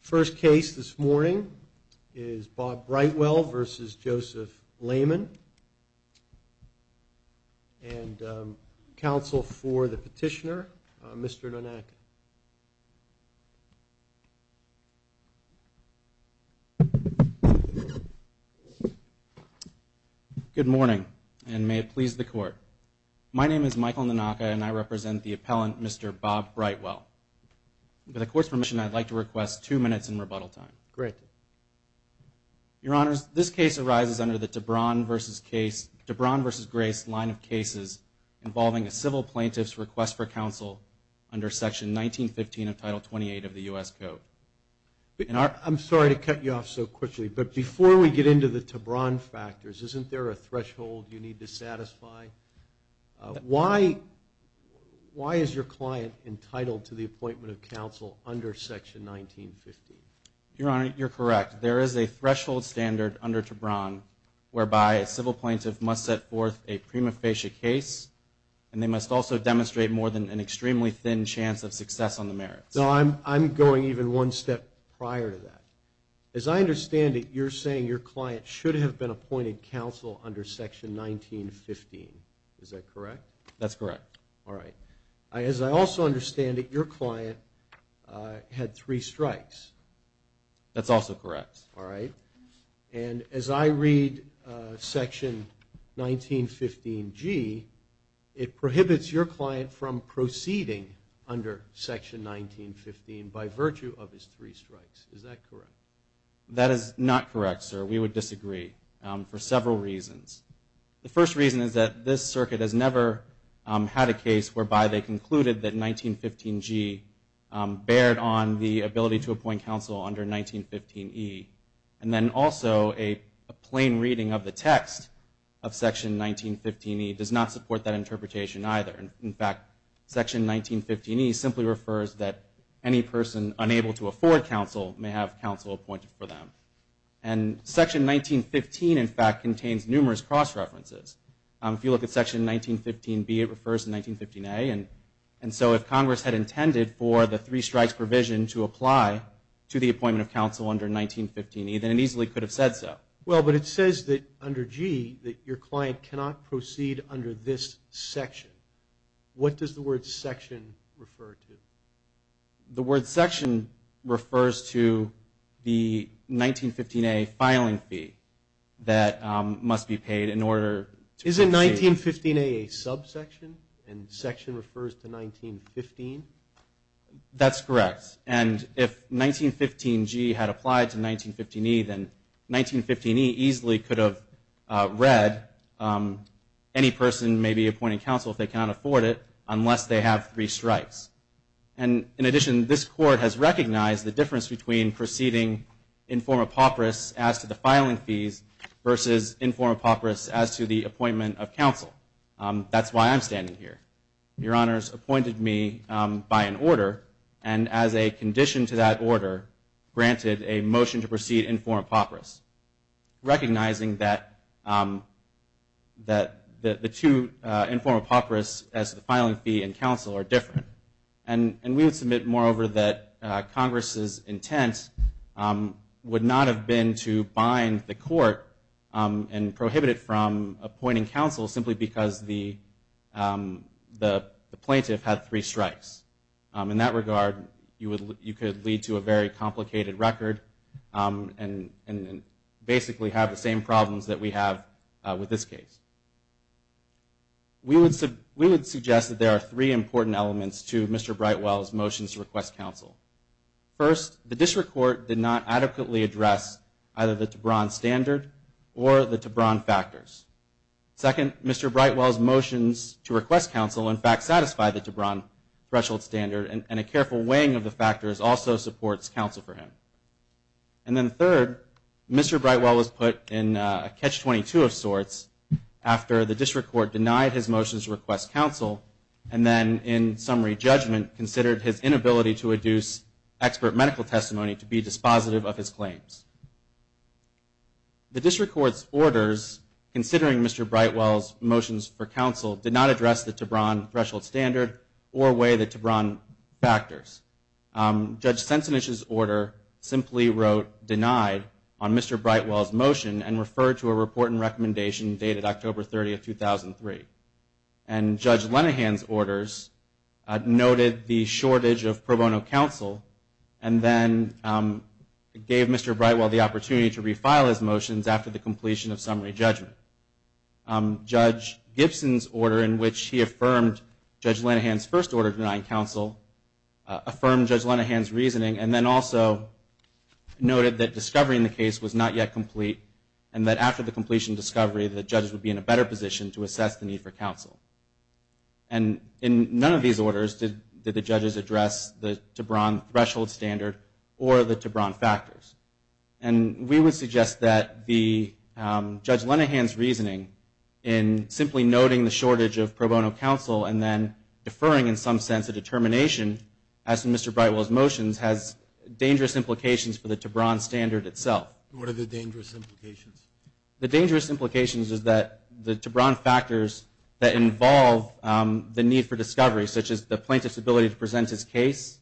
First case this morning is Bob Brightwell v. Joseph Lehman. And counsel for the petitioner, Mr. Nanaka. Good morning, and may it please the court. My name is Michael Nanaka, and I represent the appellant, Mr. Bob Brightwell. With the court's permission, I'd like to request two minutes in rebuttal time. Great. Your Honors, this case arises under the Tebron v. Grace line of cases involving a civil plaintiff's request for counsel under Section 1915 of Title 28 of the U.S. Code. I'm sorry to cut you off so quickly, but before we get into the Tebron factors, isn't there a threshold you need to satisfy? Why is your client entitled to the appointment of counsel under Section 1915? Your Honor, you're correct. There is a threshold standard under Tebron whereby a civil plaintiff must set forth a prima facie case, and they must also demonstrate more than an extremely thin chance of success on the merits. No, I'm going even one step prior to that. As I understand it, you're saying your client should have been appointed counsel under Section 1915. Is that correct? That's correct. All right. As I also understand it, your client had three strikes. That's also correct. All right. And as I read Section 1915G, it prohibits your client from proceeding under Section 1915 by virtue of his three strikes. Is that correct? That is not correct, sir. We would disagree for several reasons. The first reason is that this circuit has never had a case whereby they concluded that 1915G bared on the ability to appoint counsel under 1915E, and then also a plain reading of the text of Section 1915E does not support that interpretation either. In fact, Section 1915E simply refers that any person unable to afford counsel may have counsel appointed for them. And Section 1915, in fact, contains numerous cross-references. If you look at Section 1915B, it refers to 1915A, and so if Congress had intended for the three strikes provision to apply to the appointment of counsel under 1915E, then it easily could have said so. Well, but it says that under G that your client cannot proceed under this section. What does the word section refer to? The word section refers to the 1915A filing fee that must be paid in order to proceed. Isn't 1915A a subsection, and section refers to 1915? That's correct. And if 1915G had applied to 1915E, then 1915E easily could have read any person may be appointing counsel if they cannot afford it unless they have three strikes. And in addition, this Court has recognized the difference between proceeding in form of papyrus as to the filing fees versus in form of papyrus as to the appointment of counsel. That's why I'm standing here. Your Honors appointed me by an order, and as a condition to that order granted a motion to proceed in form of papyrus, recognizing that the two in form of papyrus as to the filing fee and counsel are different. And we would submit moreover that Congress's intent would not have been to bind the Court and prohibit it from appointing counsel simply because the plaintiff had three strikes. In that regard, you could lead to a very complicated record and basically have the same problems that we have with this case. We would suggest that there are three important elements to Mr. Brightwell's motions to request counsel. First, the District Court did not adequately address either the Tebron standard or the Tebron factors. Second, Mr. Brightwell's motions to request counsel, in fact, satisfy the Tebron threshold standard, and a careful weighing of the factors also supports counsel for him. And then third, Mr. Brightwell was put in a catch-22 of sorts after the District Court denied his motions to request counsel and then in summary judgment considered his inability to adduce expert medical testimony to be dispositive of his claims. The District Court's orders, considering Mr. Brightwell's motions for counsel, did not address the Tebron threshold standard or weigh the Tebron factors. Judge Sensenich's order simply wrote denied on Mr. Brightwell's motion and referred to a report and recommendation dated October 30, 2003. And Judge Lenihan's orders noted the shortage of pro bono counsel and then gave Mr. Brightwell the opportunity to refile his motions after the completion of summary judgment. Judge Gibson's order, in which he affirmed Judge Lenihan's first order denying counsel, affirmed Judge Lenihan's reasoning and then also noted that discovery in the case was not yet complete and that after the completion of discovery the judges would be in a better position to assess the need for counsel. And in none of these orders did the judges address the Tebron threshold standard or the Tebron factors. And we would suggest that Judge Lenihan's reasoning in simply noting the shortage of pro bono counsel and then deferring in some sense a determination, as in Mr. Brightwell's motions, has dangerous implications for the Tebron standard itself. What are the dangerous implications? The dangerous implications is that the Tebron factors that involve the need for discovery, such as the plaintiff's ability to present his case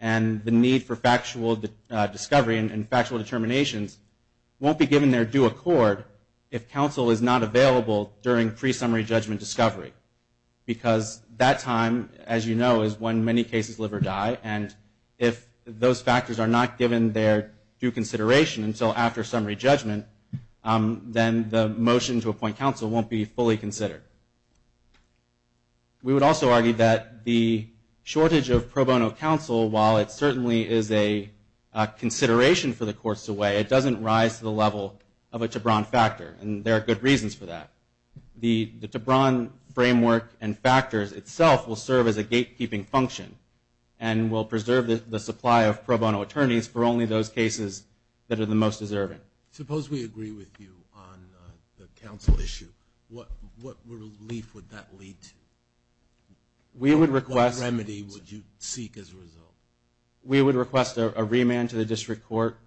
and the need for factual discovery and factual determinations won't be given their due accord if counsel is not available during pre-summary judgment discovery. Because that time, as you know, is when many cases live or die and if those factors are not given their due consideration until after summary judgment, then the motion to appoint counsel won't be fully considered. We would also argue that the shortage of pro bono counsel, while it certainly is a consideration for the courts to weigh, it doesn't rise to the level of a Tebron factor, and there are good reasons for that. The Tebron framework and factors itself will serve as a gatekeeping function and will preserve the supply of pro bono attorneys for only those cases that are the most deserving. Suppose we agree with you on the counsel issue. What relief would that lead to? What remedy would you seek as a result? We would request a remand to the district court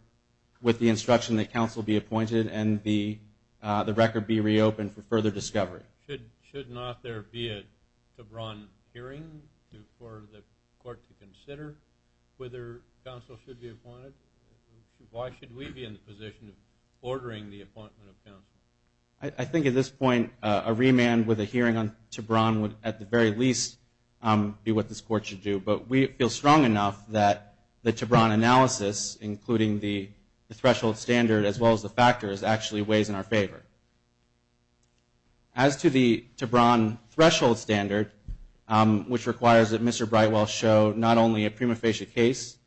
with the instruction that counsel be appointed and the record be reopened for further discovery. Should not there be a Tebron hearing for the court to consider whether counsel should be appointed? Why should we be in the position of ordering the appointment of counsel? I think at this point a remand with a hearing on Tebron would at the very least be what this court should do, but we feel strong enough that the Tebron analysis, including the threshold standard as well as the factors, actually weighs in our favor. As to the Tebron threshold standard, which requires that Mr. Brightwell show not only a prima facie case,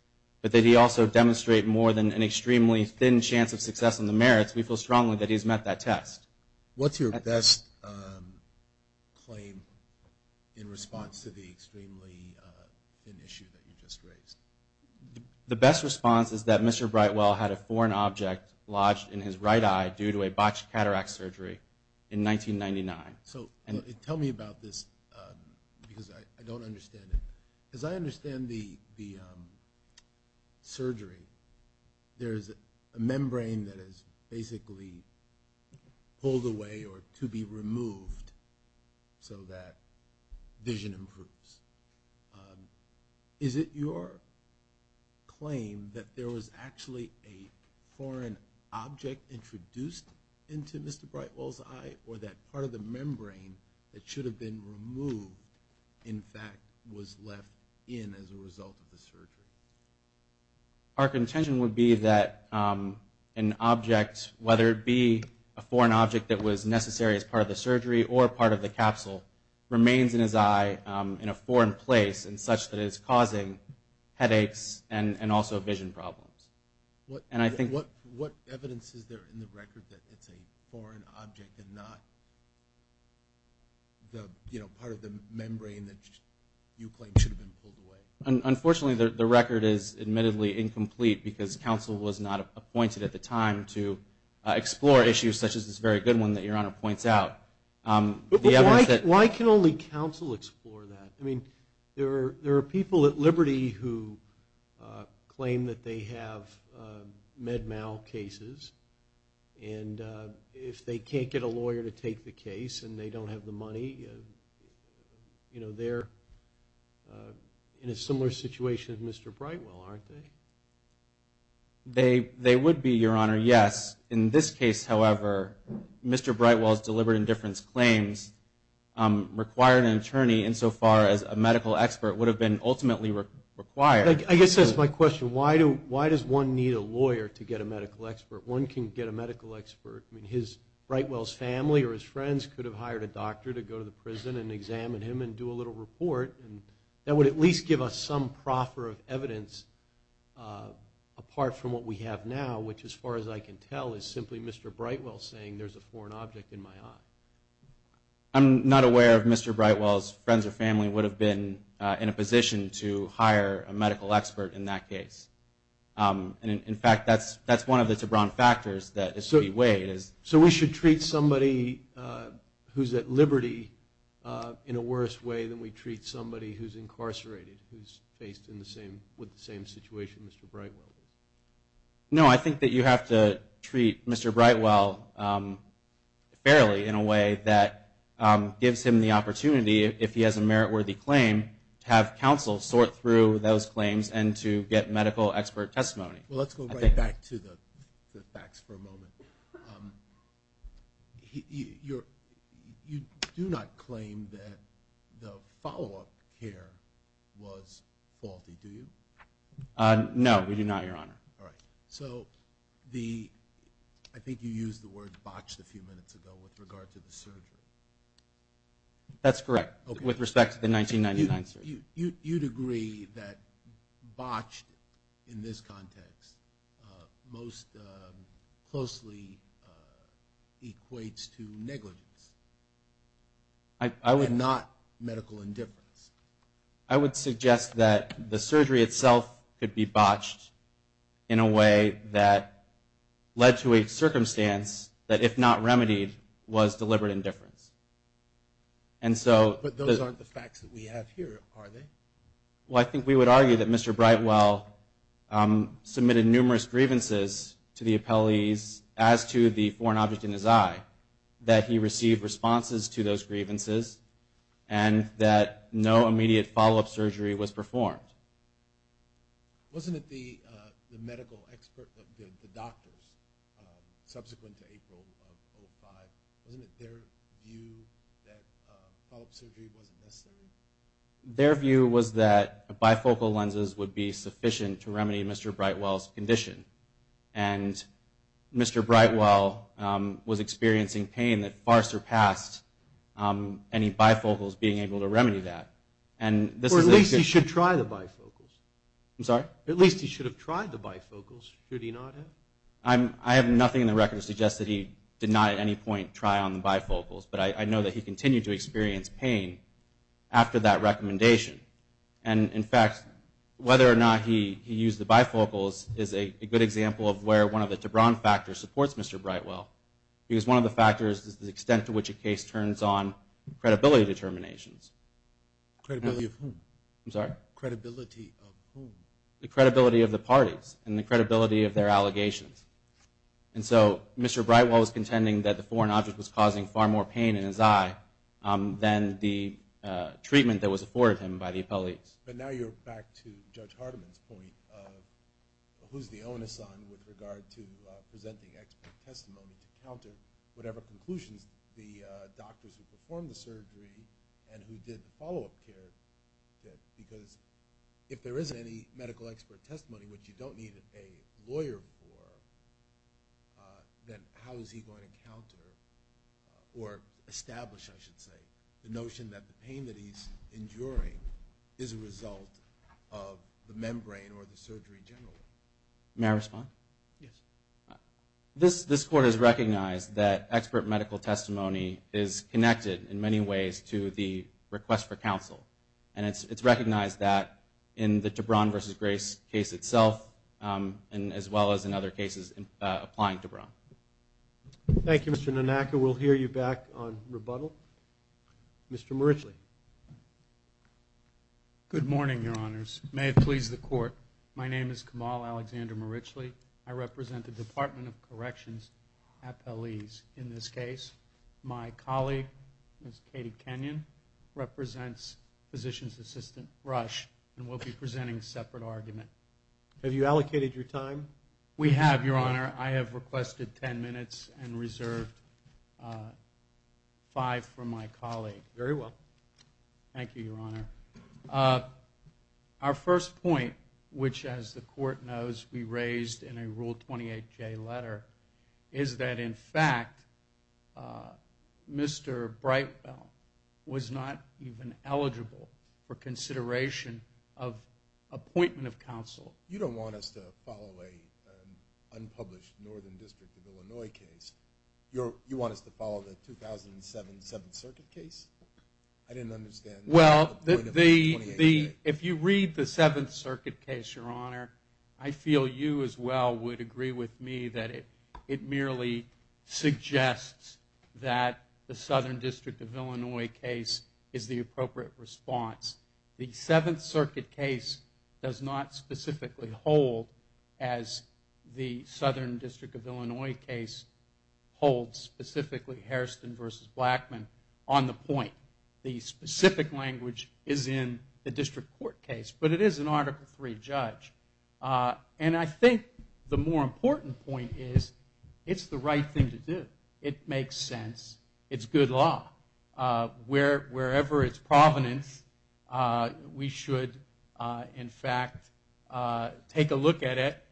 but that he also demonstrate more than an extremely thin chance of success and the merits, we feel strongly that he's met that test. What's your best claim in response to the extremely thin issue that you just raised? The best response is that Mr. Brightwell had a foreign object lodged in his right eye due to a botched cataract surgery in 1999. Tell me about this because I don't understand it. As I understand the surgery, there is a membrane that is basically pulled away or to be removed so that vision improves. Is it your claim that there was actually a foreign object introduced into Mr. Brightwell's eye or that part of the membrane that should have been removed, in fact, was left in as a result of the surgery? Our contention would be that an object, whether it be a foreign object that was necessary as part of the surgery or part of the capsule, remains in his eye in a foreign place in such that it is causing headaches and also vision problems. What evidence is there in the record that it's a foreign object and not part of the membrane that you claim should have been pulled away? Unfortunately, the record is admittedly incomplete because counsel was not appointed at the time to explore issues such as this very good one that Your Honor points out. Why can only counsel explore that? I mean, there are people at Liberty who claim that they have med mal cases and if they can't get a lawyer to take the case and they don't have the money, they're in a similar situation as Mr. Brightwell, aren't they? They would be, Your Honor, yes. In this case, however, Mr. Brightwell's deliberate indifference claims required an attorney insofar as a medical expert would have been ultimately required. I guess that's my question. Why does one need a lawyer to get a medical expert? One can get a medical expert. I mean, Brightwell's family or his friends could have hired a doctor to go to the prison and examine him and do a little report. That would at least give us some proffer of evidence apart from what we have now, which as far as I can tell is simply Mr. Brightwell saying there's a foreign object in my eye. I'm not aware if Mr. Brightwell's friends or family would have been in a position to hire a medical expert in that case. In fact, that's one of the Tebron factors that is to be weighed. So we should treat somebody who's at liberty in a worse way than we treat somebody who's incarcerated, who's faced with the same situation as Mr. Brightwell? No, I think that you have to treat Mr. Brightwell fairly in a way that gives him the opportunity, if he has a merit-worthy claim, to have counsel sort through those claims and to get medical expert testimony. Well, let's go right back to the facts for a moment. You do not claim that the follow-up care was faulty, do you? No, we do not, Your Honor. All right. So I think you used the word botched a few minutes ago with regard to the surgery. That's correct, with respect to the 1999 surgery. You'd agree that botched in this context most closely equates to negligence and not medical indifference? I would suggest that the surgery itself could be botched in a way that led to a circumstance that, if not remedied, was deliberate indifference. But those aren't the facts that we have here, are they? Well, I think we would argue that Mr. Brightwell submitted numerous grievances to the appellees as to the foreign object in his eye, that he received responses to those grievances, and that no immediate follow-up surgery was performed. Wasn't it the medical expert, the doctors, subsequent to April of 2005, wasn't it their view that follow-up surgery wasn't necessary? Their view was that bifocal lenses would be sufficient to remedy Mr. Brightwell's condition. And Mr. Brightwell was experiencing pain that far surpassed any bifocals being able to remedy that. Or at least he should try the bifocals. I'm sorry? At least he should have tried the bifocals, should he not have? I have nothing in the record to suggest that he did not at any point try on the bifocals, but I know that he continued to experience pain after that recommendation. And, in fact, whether or not he used the bifocals is a good example of where one of the Tebron factors supports Mr. Brightwell, because one of the factors is the extent to which a case turns on Credibility of whom? I'm sorry? Credibility of whom? The credibility of the parties and the credibility of their allegations. And so Mr. Brightwell was contending that the foreign object was causing far more pain in his eye than the treatment that was afforded him by the appellees. But now you're back to Judge Hardiman's point of who's the onus on with regard to presenting expert testimony to counter whatever conclusions the doctors who performed the surgery and who did the follow-up care did, because if there isn't any medical expert testimony, which you don't need a lawyer for, then how is he going to counter or establish, I should say, the notion that the pain that he's enduring is a result of the membrane or the surgery in general? May I respond? Yes. This Court has recognized that expert medical testimony is connected in many ways to the request for counsel, and it's recognized that in the Tebron v. Grace case itself as well as in other cases applying Tebron. Thank you, Mr. Nanaka. We'll hear you back on rebuttal. Mr. Marichle. Good morning, Your Honors. May it please the Court. My name is Kamal Alexander Marichle. I represent the Department of Corrections at Peleze. In this case, my colleague, Ms. Katie Kenyon, represents Physician's Assistant Rush, and we'll be presenting a separate argument. Have you allocated your time? We have, Your Honor. I have requested 10 minutes and reserved five for my colleague. Very well. Thank you, Your Honor. Our first point, which, as the Court knows, we raised in a Rule 28J letter, is that, in fact, Mr. Breitfeld was not even eligible for consideration of appointment of counsel. You don't want us to follow an unpublished Northern District of Illinois case. You want us to follow the 2007 Seventh Circuit case? I didn't understand. Well, if you read the Seventh Circuit case, Your Honor, I feel you as well would agree with me that it merely suggests that the Southern District of Illinois case is the appropriate response. The Seventh Circuit case does not specifically hold, as the Southern District of Illinois case holds, specifically Hairston v. Blackman, on the point. The specific language is in the District Court case, but it is an Article III judge. And I think the more important point is it's the right thing to do. It makes sense. It's good law. Wherever its provenance, we should, in fact, take a look at it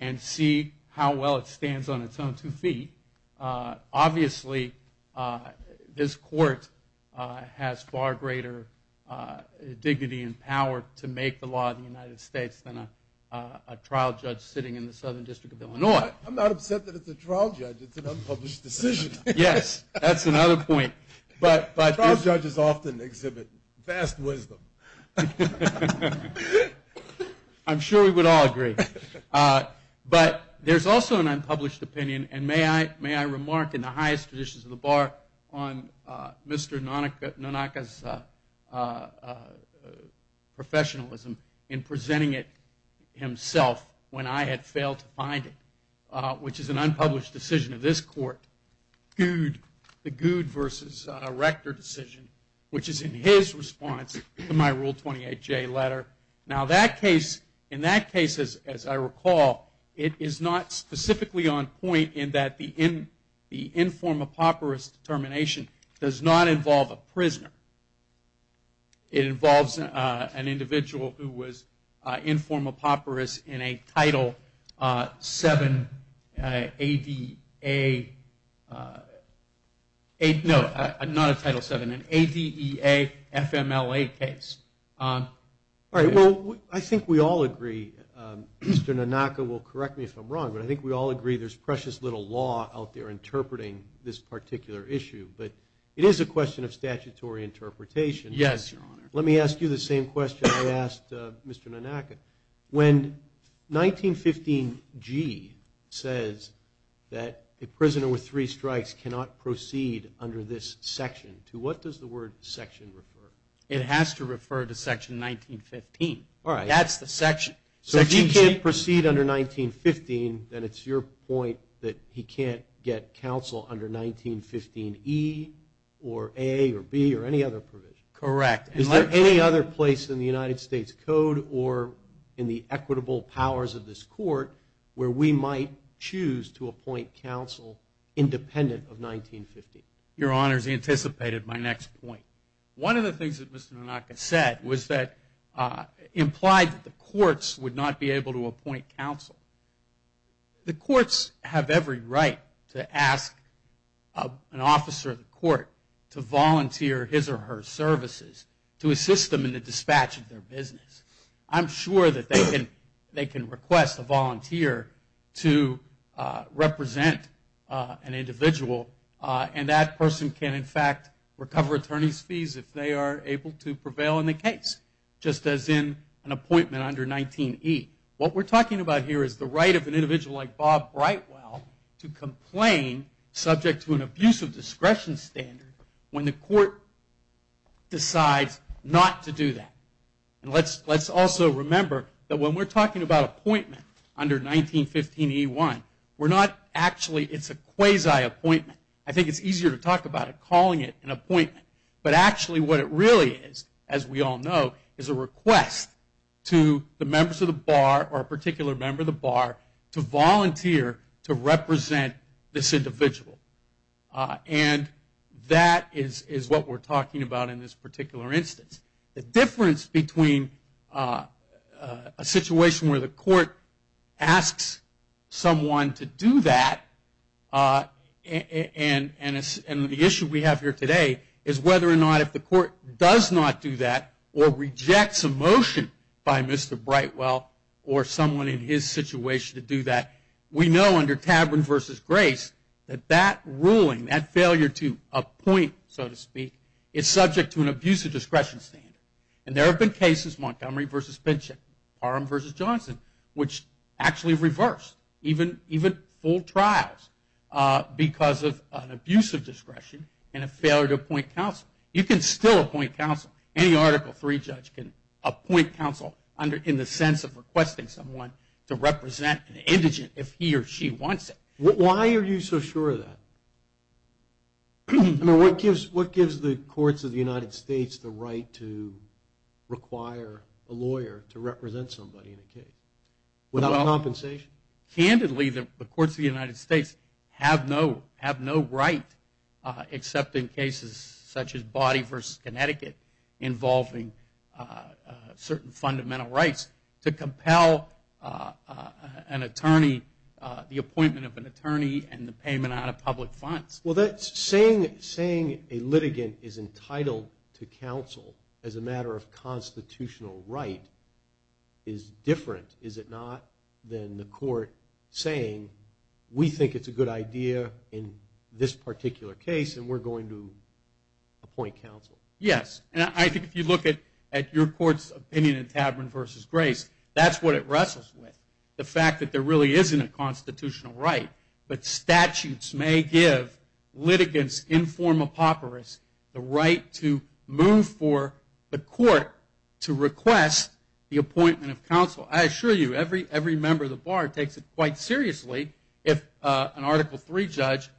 and see how well it stands on its own two feet. Obviously, this Court has far greater dignity and power to make the law of the United States than a trial judge sitting in the Southern District of Illinois. I'm not upset that it's a trial judge. It's an unpublished decision. Yes, that's another point. But trial judges often exhibit vast wisdom. I'm sure we would all agree. But there's also an unpublished opinion, and may I remark in the highest traditions of the bar on Mr. Nanaka's professionalism in presenting it himself when I had failed to find it, which is an unpublished decision of this Court, the Goud v. Rector decision, which is in his response to my Rule 28J letter. Now, in that case, as I recall, it is not specifically on point in that the informed papyrus determination does not involve a prisoner. It involves an individual who was informed papyrus in a Title VII ADEA, no, not a Title VII, an ADEA FMLA case. All right, well, I think we all agree, Mr. Nanaka will correct me if I'm wrong, but I think we all agree there's precious little law out there interpreting this particular issue. But it is a question of statutory interpretation. Yes, Your Honor. Let me ask you the same question I asked Mr. Nanaka. When 1915G says that a prisoner with three strikes cannot proceed under this section, to what does the word section refer? It has to refer to Section 1915. All right. That's the section. So if he can't proceed under 1915, then it's your point that he can't get counsel under 1915E or A or B or any other provision. Correct. Is there any other place in the United States Code or in the equitable powers of this court where we might choose to appoint counsel independent of 1915? Your Honors, he anticipated my next point. One of the things that Mr. Nanaka said implied that the courts would not be able to appoint counsel. The courts have every right to ask an officer of the court to volunteer his or her services to assist them in the dispatch of their business. I'm sure that they can request a volunteer to represent an individual, and that person can, in fact, recover attorney's fees if they are able to prevail in the case, just as in an appointment under 19E. What we're talking about here is the right of an individual like Bob Brightwell to complain subject to an abuse of discretion standard when the court decides not to do that. And let's also remember that when we're talking about appointment under 1915E1, we're not actually, it's a quasi-appointment. I think it's easier to talk about it calling it an appointment. But actually what it really is, as we all know, is a request to the members of the bar or a particular member of the bar to volunteer to represent this individual. And that is what we're talking about in this particular instance. The difference between a situation where the court asks someone to do that and the issue we have here today is whether or not if the court does not do that or rejects a motion by Mr. Brightwell or someone in his situation to do that. We know under Tabern versus Grace that that ruling, that failure to appoint, so to speak, is subject to an abuse of discretion standard. And there have been cases, Montgomery versus Pinchin, Parham versus Johnson, which actually reversed even full trials because of an abuse of discretion and a failure to appoint counsel. You can still appoint counsel. Any Article III judge can appoint counsel in the sense of requesting someone to represent an indigent if he or she wants it. Why are you so sure of that? What gives the courts of the United States the right to require a lawyer to represent somebody in a case without compensation? Candidly, the courts of the United States have no right, except in cases such as Body versus Connecticut involving certain fundamental rights, to compel an attorney, the appointment of an attorney and the payment out of public funds. Well, saying a litigant is entitled to counsel as a matter of constitutional right is different, is it not, than the court saying we think it's a good idea in this particular case and we're going to appoint counsel? Yes, and I think if you look at your court's opinion in Tabern versus Grace, that's what it wrestles with, the fact that there really isn't a constitutional right, but statutes may give litigants in form of papyrus the right to move for the court to request the appointment of counsel. I assure you, every member of the bar takes it quite seriously if an Article III judge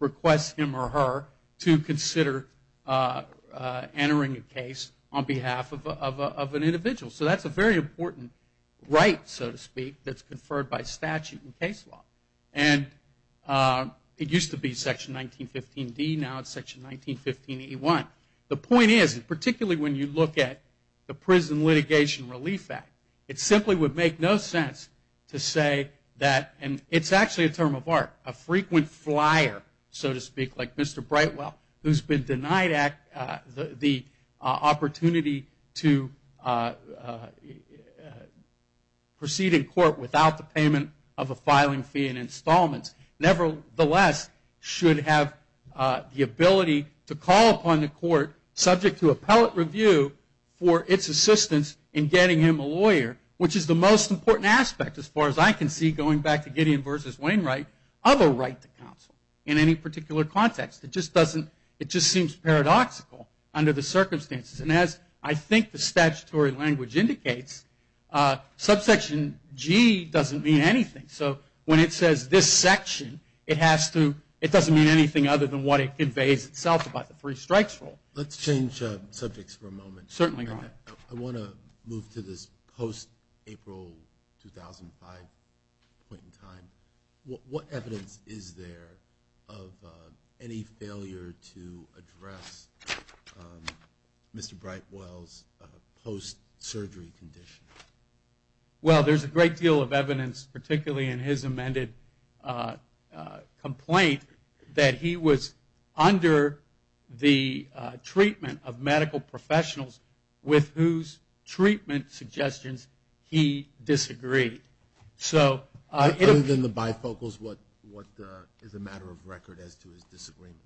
requests him or her to consider entering a case on behalf of an individual. So that's a very important right, so to speak, that's conferred by statute and case law. And it used to be Section 1915D, now it's Section 1915A1. The point is, particularly when you look at the Prison Litigation Relief Act, it simply would make no sense to say that, and it's actually a term of art, a frequent flyer, so to speak, like Mr. Brightwell, who's been denied the opportunity to proceed in court without the payment of a filing fee and installments, nevertheless should have the ability to call upon the court subject to appellate review for its assistance in getting him a lawyer, which is the most important aspect, as far as I can see, going back to Gideon versus Wainwright, of a right to counsel in any particular context. It just seems paradoxical under the circumstances. And as I think the statutory language indicates, subsection G doesn't mean anything. So when it says this section, it doesn't mean anything other than what it conveys itself about the three strikes rule. Let's change subjects for a moment. Certainly. I want to move to this post-April 2005 point in time. What evidence is there of any failure to address Mr. Brightwell's post-surgery condition? Well, there's a great deal of evidence, particularly in his amended complaint, that he was under the treatment of medical professionals with whose treatment suggestions he disagreed. Other than the bifocals, what is the matter of record as to his disagreement?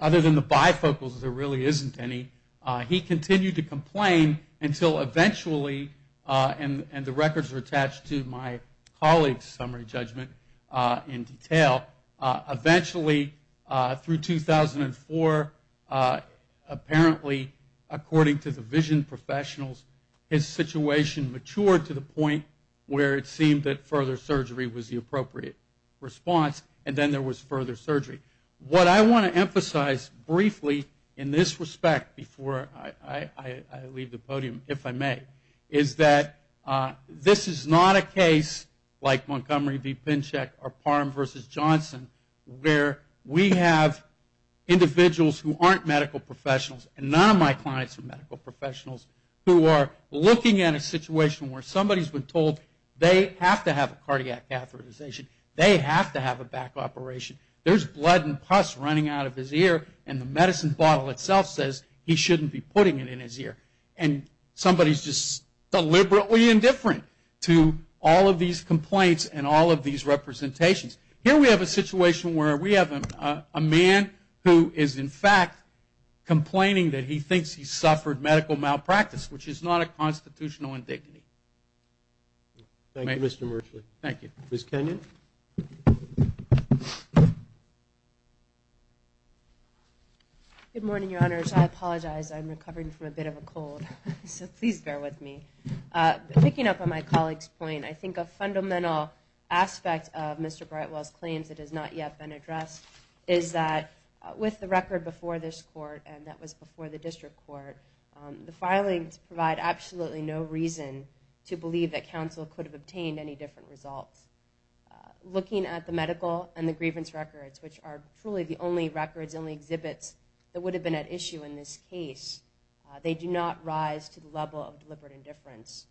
Other than the bifocals, there really isn't any. He continued to complain until eventually, and the records are attached to my colleague's summary judgment in detail, eventually through 2004, apparently, according to the vision professionals, his situation matured to the point where it seemed that further surgery was the appropriate response, and then there was further surgery. What I want to emphasize briefly in this respect before I leave the podium, if I may, is that this is not a case like Montgomery v. Pinchek or Parham v. Johnson, where we have individuals who aren't medical professionals, and none of my clients are medical professionals, who are looking at a situation where somebody's been told they have to have a cardiac catheterization, they have to have a back operation, there's blood and pus running out of his ear, and the medicine bottle itself says he shouldn't be putting it in his ear. And somebody's just deliberately indifferent to all of these complaints and all of these representations. Here we have a situation where we have a man who is, in fact, complaining that he thinks he's suffered medical malpractice, which is not a constitutional indignity. Thank you, Mr. Murchley. Thank you. Ms. Kenyon. Good morning, Your Honors. I apologize, I'm recovering from a bit of a cold, so please bear with me. Picking up on my colleague's point, I think a fundamental aspect of Mr. Brightwell's claims that has not yet been addressed is that with the record before this court and that was before the district court, the filings provide absolutely no reason to believe that counsel could have obtained any different results. Looking at the medical and the grievance records, which are truly the only records, the only exhibits that would have been at issue in this case, they do not rise to the level of deliberate indifference.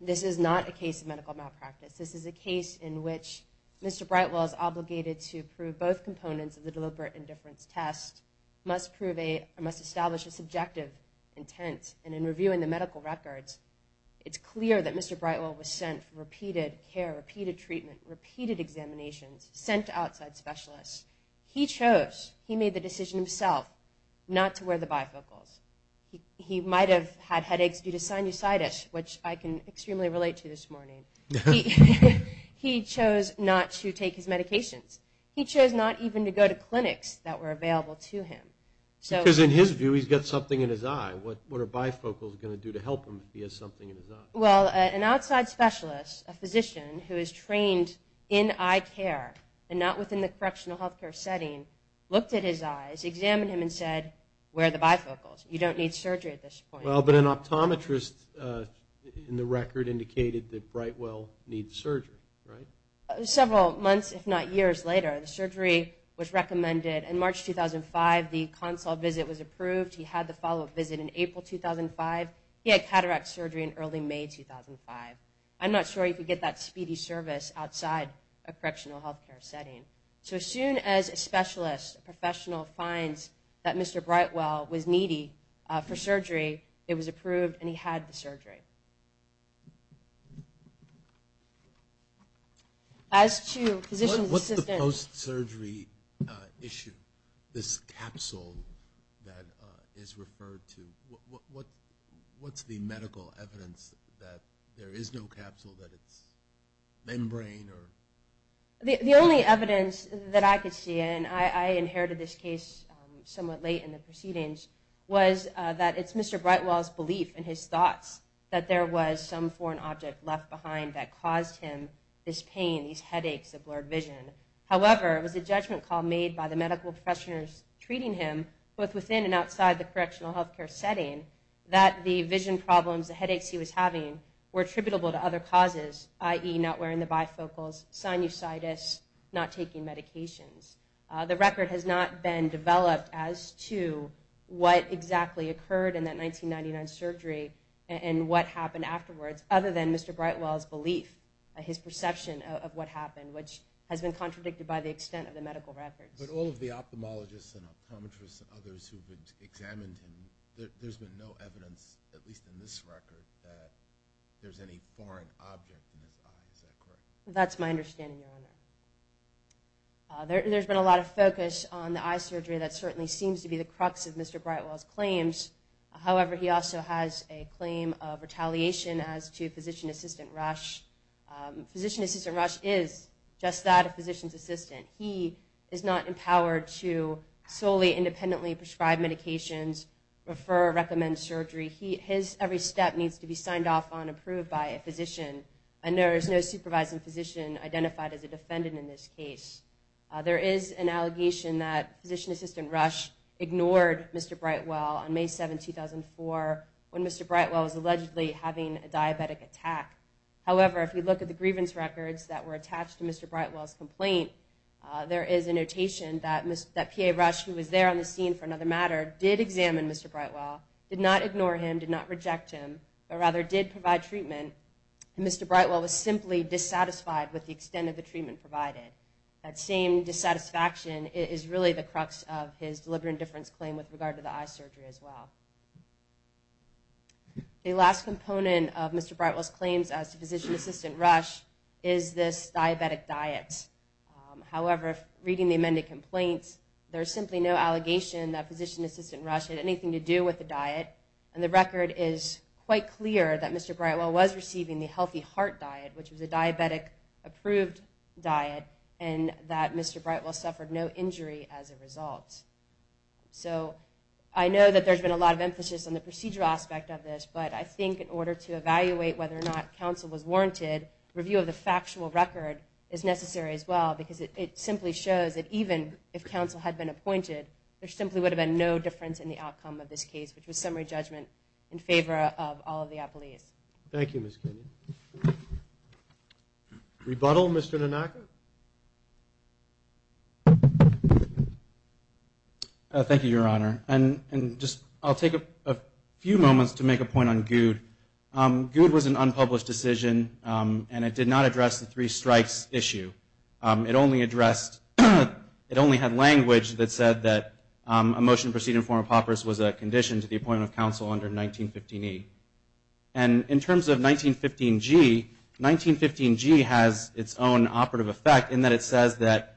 This is not a case of medical malpractice. This is a case in which Mr. Brightwell is obligated to prove both components of the deliberate indifference test, must establish a subjective intent, and in reviewing the medical records, it's clear that Mr. Brightwell was sent for repeated care, repeated treatment, repeated examinations, sent to outside specialists. He chose, he made the decision himself, not to wear the bifocals. He might have had headaches due to sinusitis, which I can extremely relate to this morning. He chose not to take his medications. He chose not even to go to clinics that were available to him. Because in his view, he's got something in his eye. What are bifocals going to do to help him if he has something in his eye? Well, an outside specialist, a physician who is trained in eye care and not within the correctional healthcare setting, looked at his eyes, examined him, and said, wear the bifocals. You don't need surgery at this point. Well, but an optometrist in the record indicated that Brightwell needs surgery, right? Several months, if not years later, the surgery was recommended. In March 2005, the consult visit was approved. He had the follow-up visit in April 2005. He had cataract surgery in early May 2005. I'm not sure he could get that speedy service outside a correctional healthcare setting. So as soon as a specialist, a professional, finds that Mr. Brightwell was needy for surgery, it was approved, and he had the surgery. As to physician's assistance... What's the post-surgery issue, this capsule that is referred to? What's the medical evidence that there is no capsule, that it's membrane or... The only evidence that I could see, and I inherited this case somewhat late in the proceedings, was that it's Mr. Brightwell's belief in his thoughts that there was some foreign object left behind that caused him this pain, these headaches, a blurred vision. However, it was a judgment call made by the medical professionals treating him, both within and outside the correctional healthcare setting, that the vision problems, the headaches he was having, were attributable to other causes, i.e. not wearing the bifocals, sinusitis, not taking medications. The record has not been developed as to what exactly occurred in that 1999 surgery and what happened afterwards, other than Mr. Brightwell's belief, his perception of what happened, which has been contradicted by the extent of the medical records. But all of the ophthalmologists and optometrists and others who examined him, there's been no evidence, at least in this record, that there's any foreign object in his eye, is that correct? That's my understanding, Your Honor. There's been a lot of focus on the eye surgery that certainly seems to be the crux of Mr. Brightwell's claims. However, he also has a claim of retaliation as to Physician Assistant Rush. Physician Assistant Rush is just that, a physician's assistant. He is not empowered to solely independently prescribe medications, refer or recommend surgery. His every step needs to be signed off on, approved by a physician. And there is no supervising physician identified as a defendant in this case. There is an allegation that Physician Assistant Rush ignored Mr. Brightwell on May 7, 2004, when Mr. Brightwell was allegedly having a diabetic attack. However, if you look at the grievance records that were attached to Mr. Brightwell's complaint, there is a notation that PA Rush, who was there on the scene for another matter, did examine Mr. Brightwell, did not ignore him, did not reject him, but rather did provide treatment, and Mr. Brightwell was simply dissatisfied with the extent of the treatment provided. That same dissatisfaction is really the crux of his deliberate indifference claim with regard to the eye surgery as well. The last component of Mr. Brightwell's claims as Physician Assistant Rush is this diabetic diet. However, reading the amended complaints, there is simply no allegation that Physician Assistant Rush had anything to do with the diet. And the record is quite clear that Mr. Brightwell was receiving the healthy heart diet, which was a diabetic-approved diet, and that Mr. Brightwell suffered no injury as a result. So I know that there's been a lot of emphasis on the procedural aspect of this, but I think in order to evaluate whether or not counsel was warranted, I think that review of the factual record is necessary as well because it simply shows that even if counsel had been appointed, there simply would have been no difference in the outcome of this case, which was summary judgment in favor of all of the appellees. Thank you, Ms. Kinney. Rebuttal, Mr. Nanaka? Thank you, Your Honor. I'll take a few moments to make a point on Goud. Goud was an unpublished decision, and it did not address the three strikes issue. It only addressed, it only had language that said that a motion to proceed in form of paupers was a condition to the appointment of counsel under 1915E. And in terms of 1915G, 1915G has its own operative effect in that it says that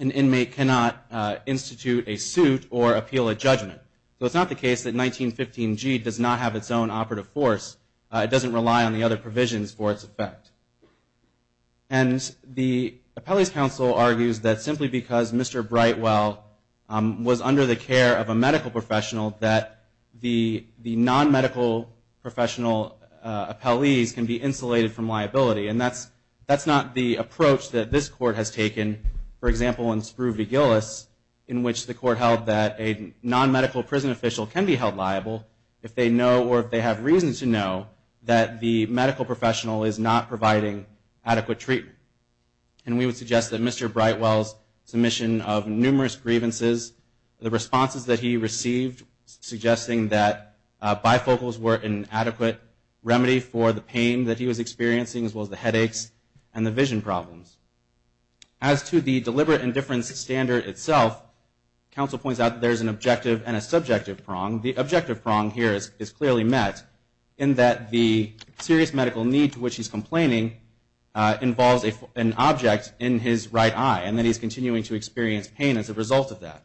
an inmate cannot institute a suit or appeal a judgment. So it's not the case that 1915G does not have its own operative force. It doesn't rely on the other provisions for its effect. And the appellees' counsel argues that simply because Mr. Brightwell was under the care of a medical professional, that the non-medical professional appellees can be insulated from liability. And that's not the approach that this Court has taken, for example, in which the Court held that a non-medical prison official can be held liable if they know or if they have reason to know that the medical professional is not providing adequate treatment. And we would suggest that Mr. Brightwell's submission of numerous grievances, the responses that he received suggesting that bifocals were an adequate remedy for the pain that he was experiencing as well as the headaches and the vision problems. As to the deliberate indifference standard itself, counsel points out that there's an objective and a subjective prong. The objective prong here is clearly met in that the serious medical need to which he's complaining involves an object in his right eye, and that he's continuing to experience pain as a result of that.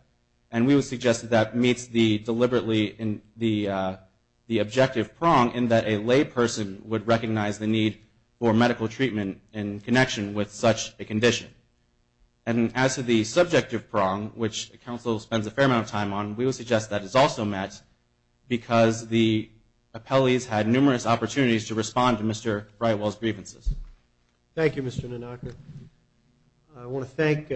And we would suggest that that meets deliberately the objective prong in that a lay person would recognize the need for medical treatment in connection with such a condition. And as to the subjective prong, which counsel spends a fair amount of time on, we would suggest that it's also met because the appellees had numerous opportunities to respond to Mr. Brightwell's grievances. Thank you, Mr. Nanaka. I want to thank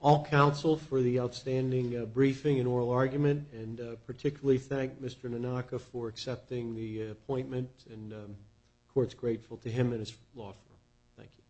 all counsel for the outstanding briefing and oral argument, and particularly thank Mr. Nanaka for accepting the appointment, and the court's grateful to him and his law firm. Thank you.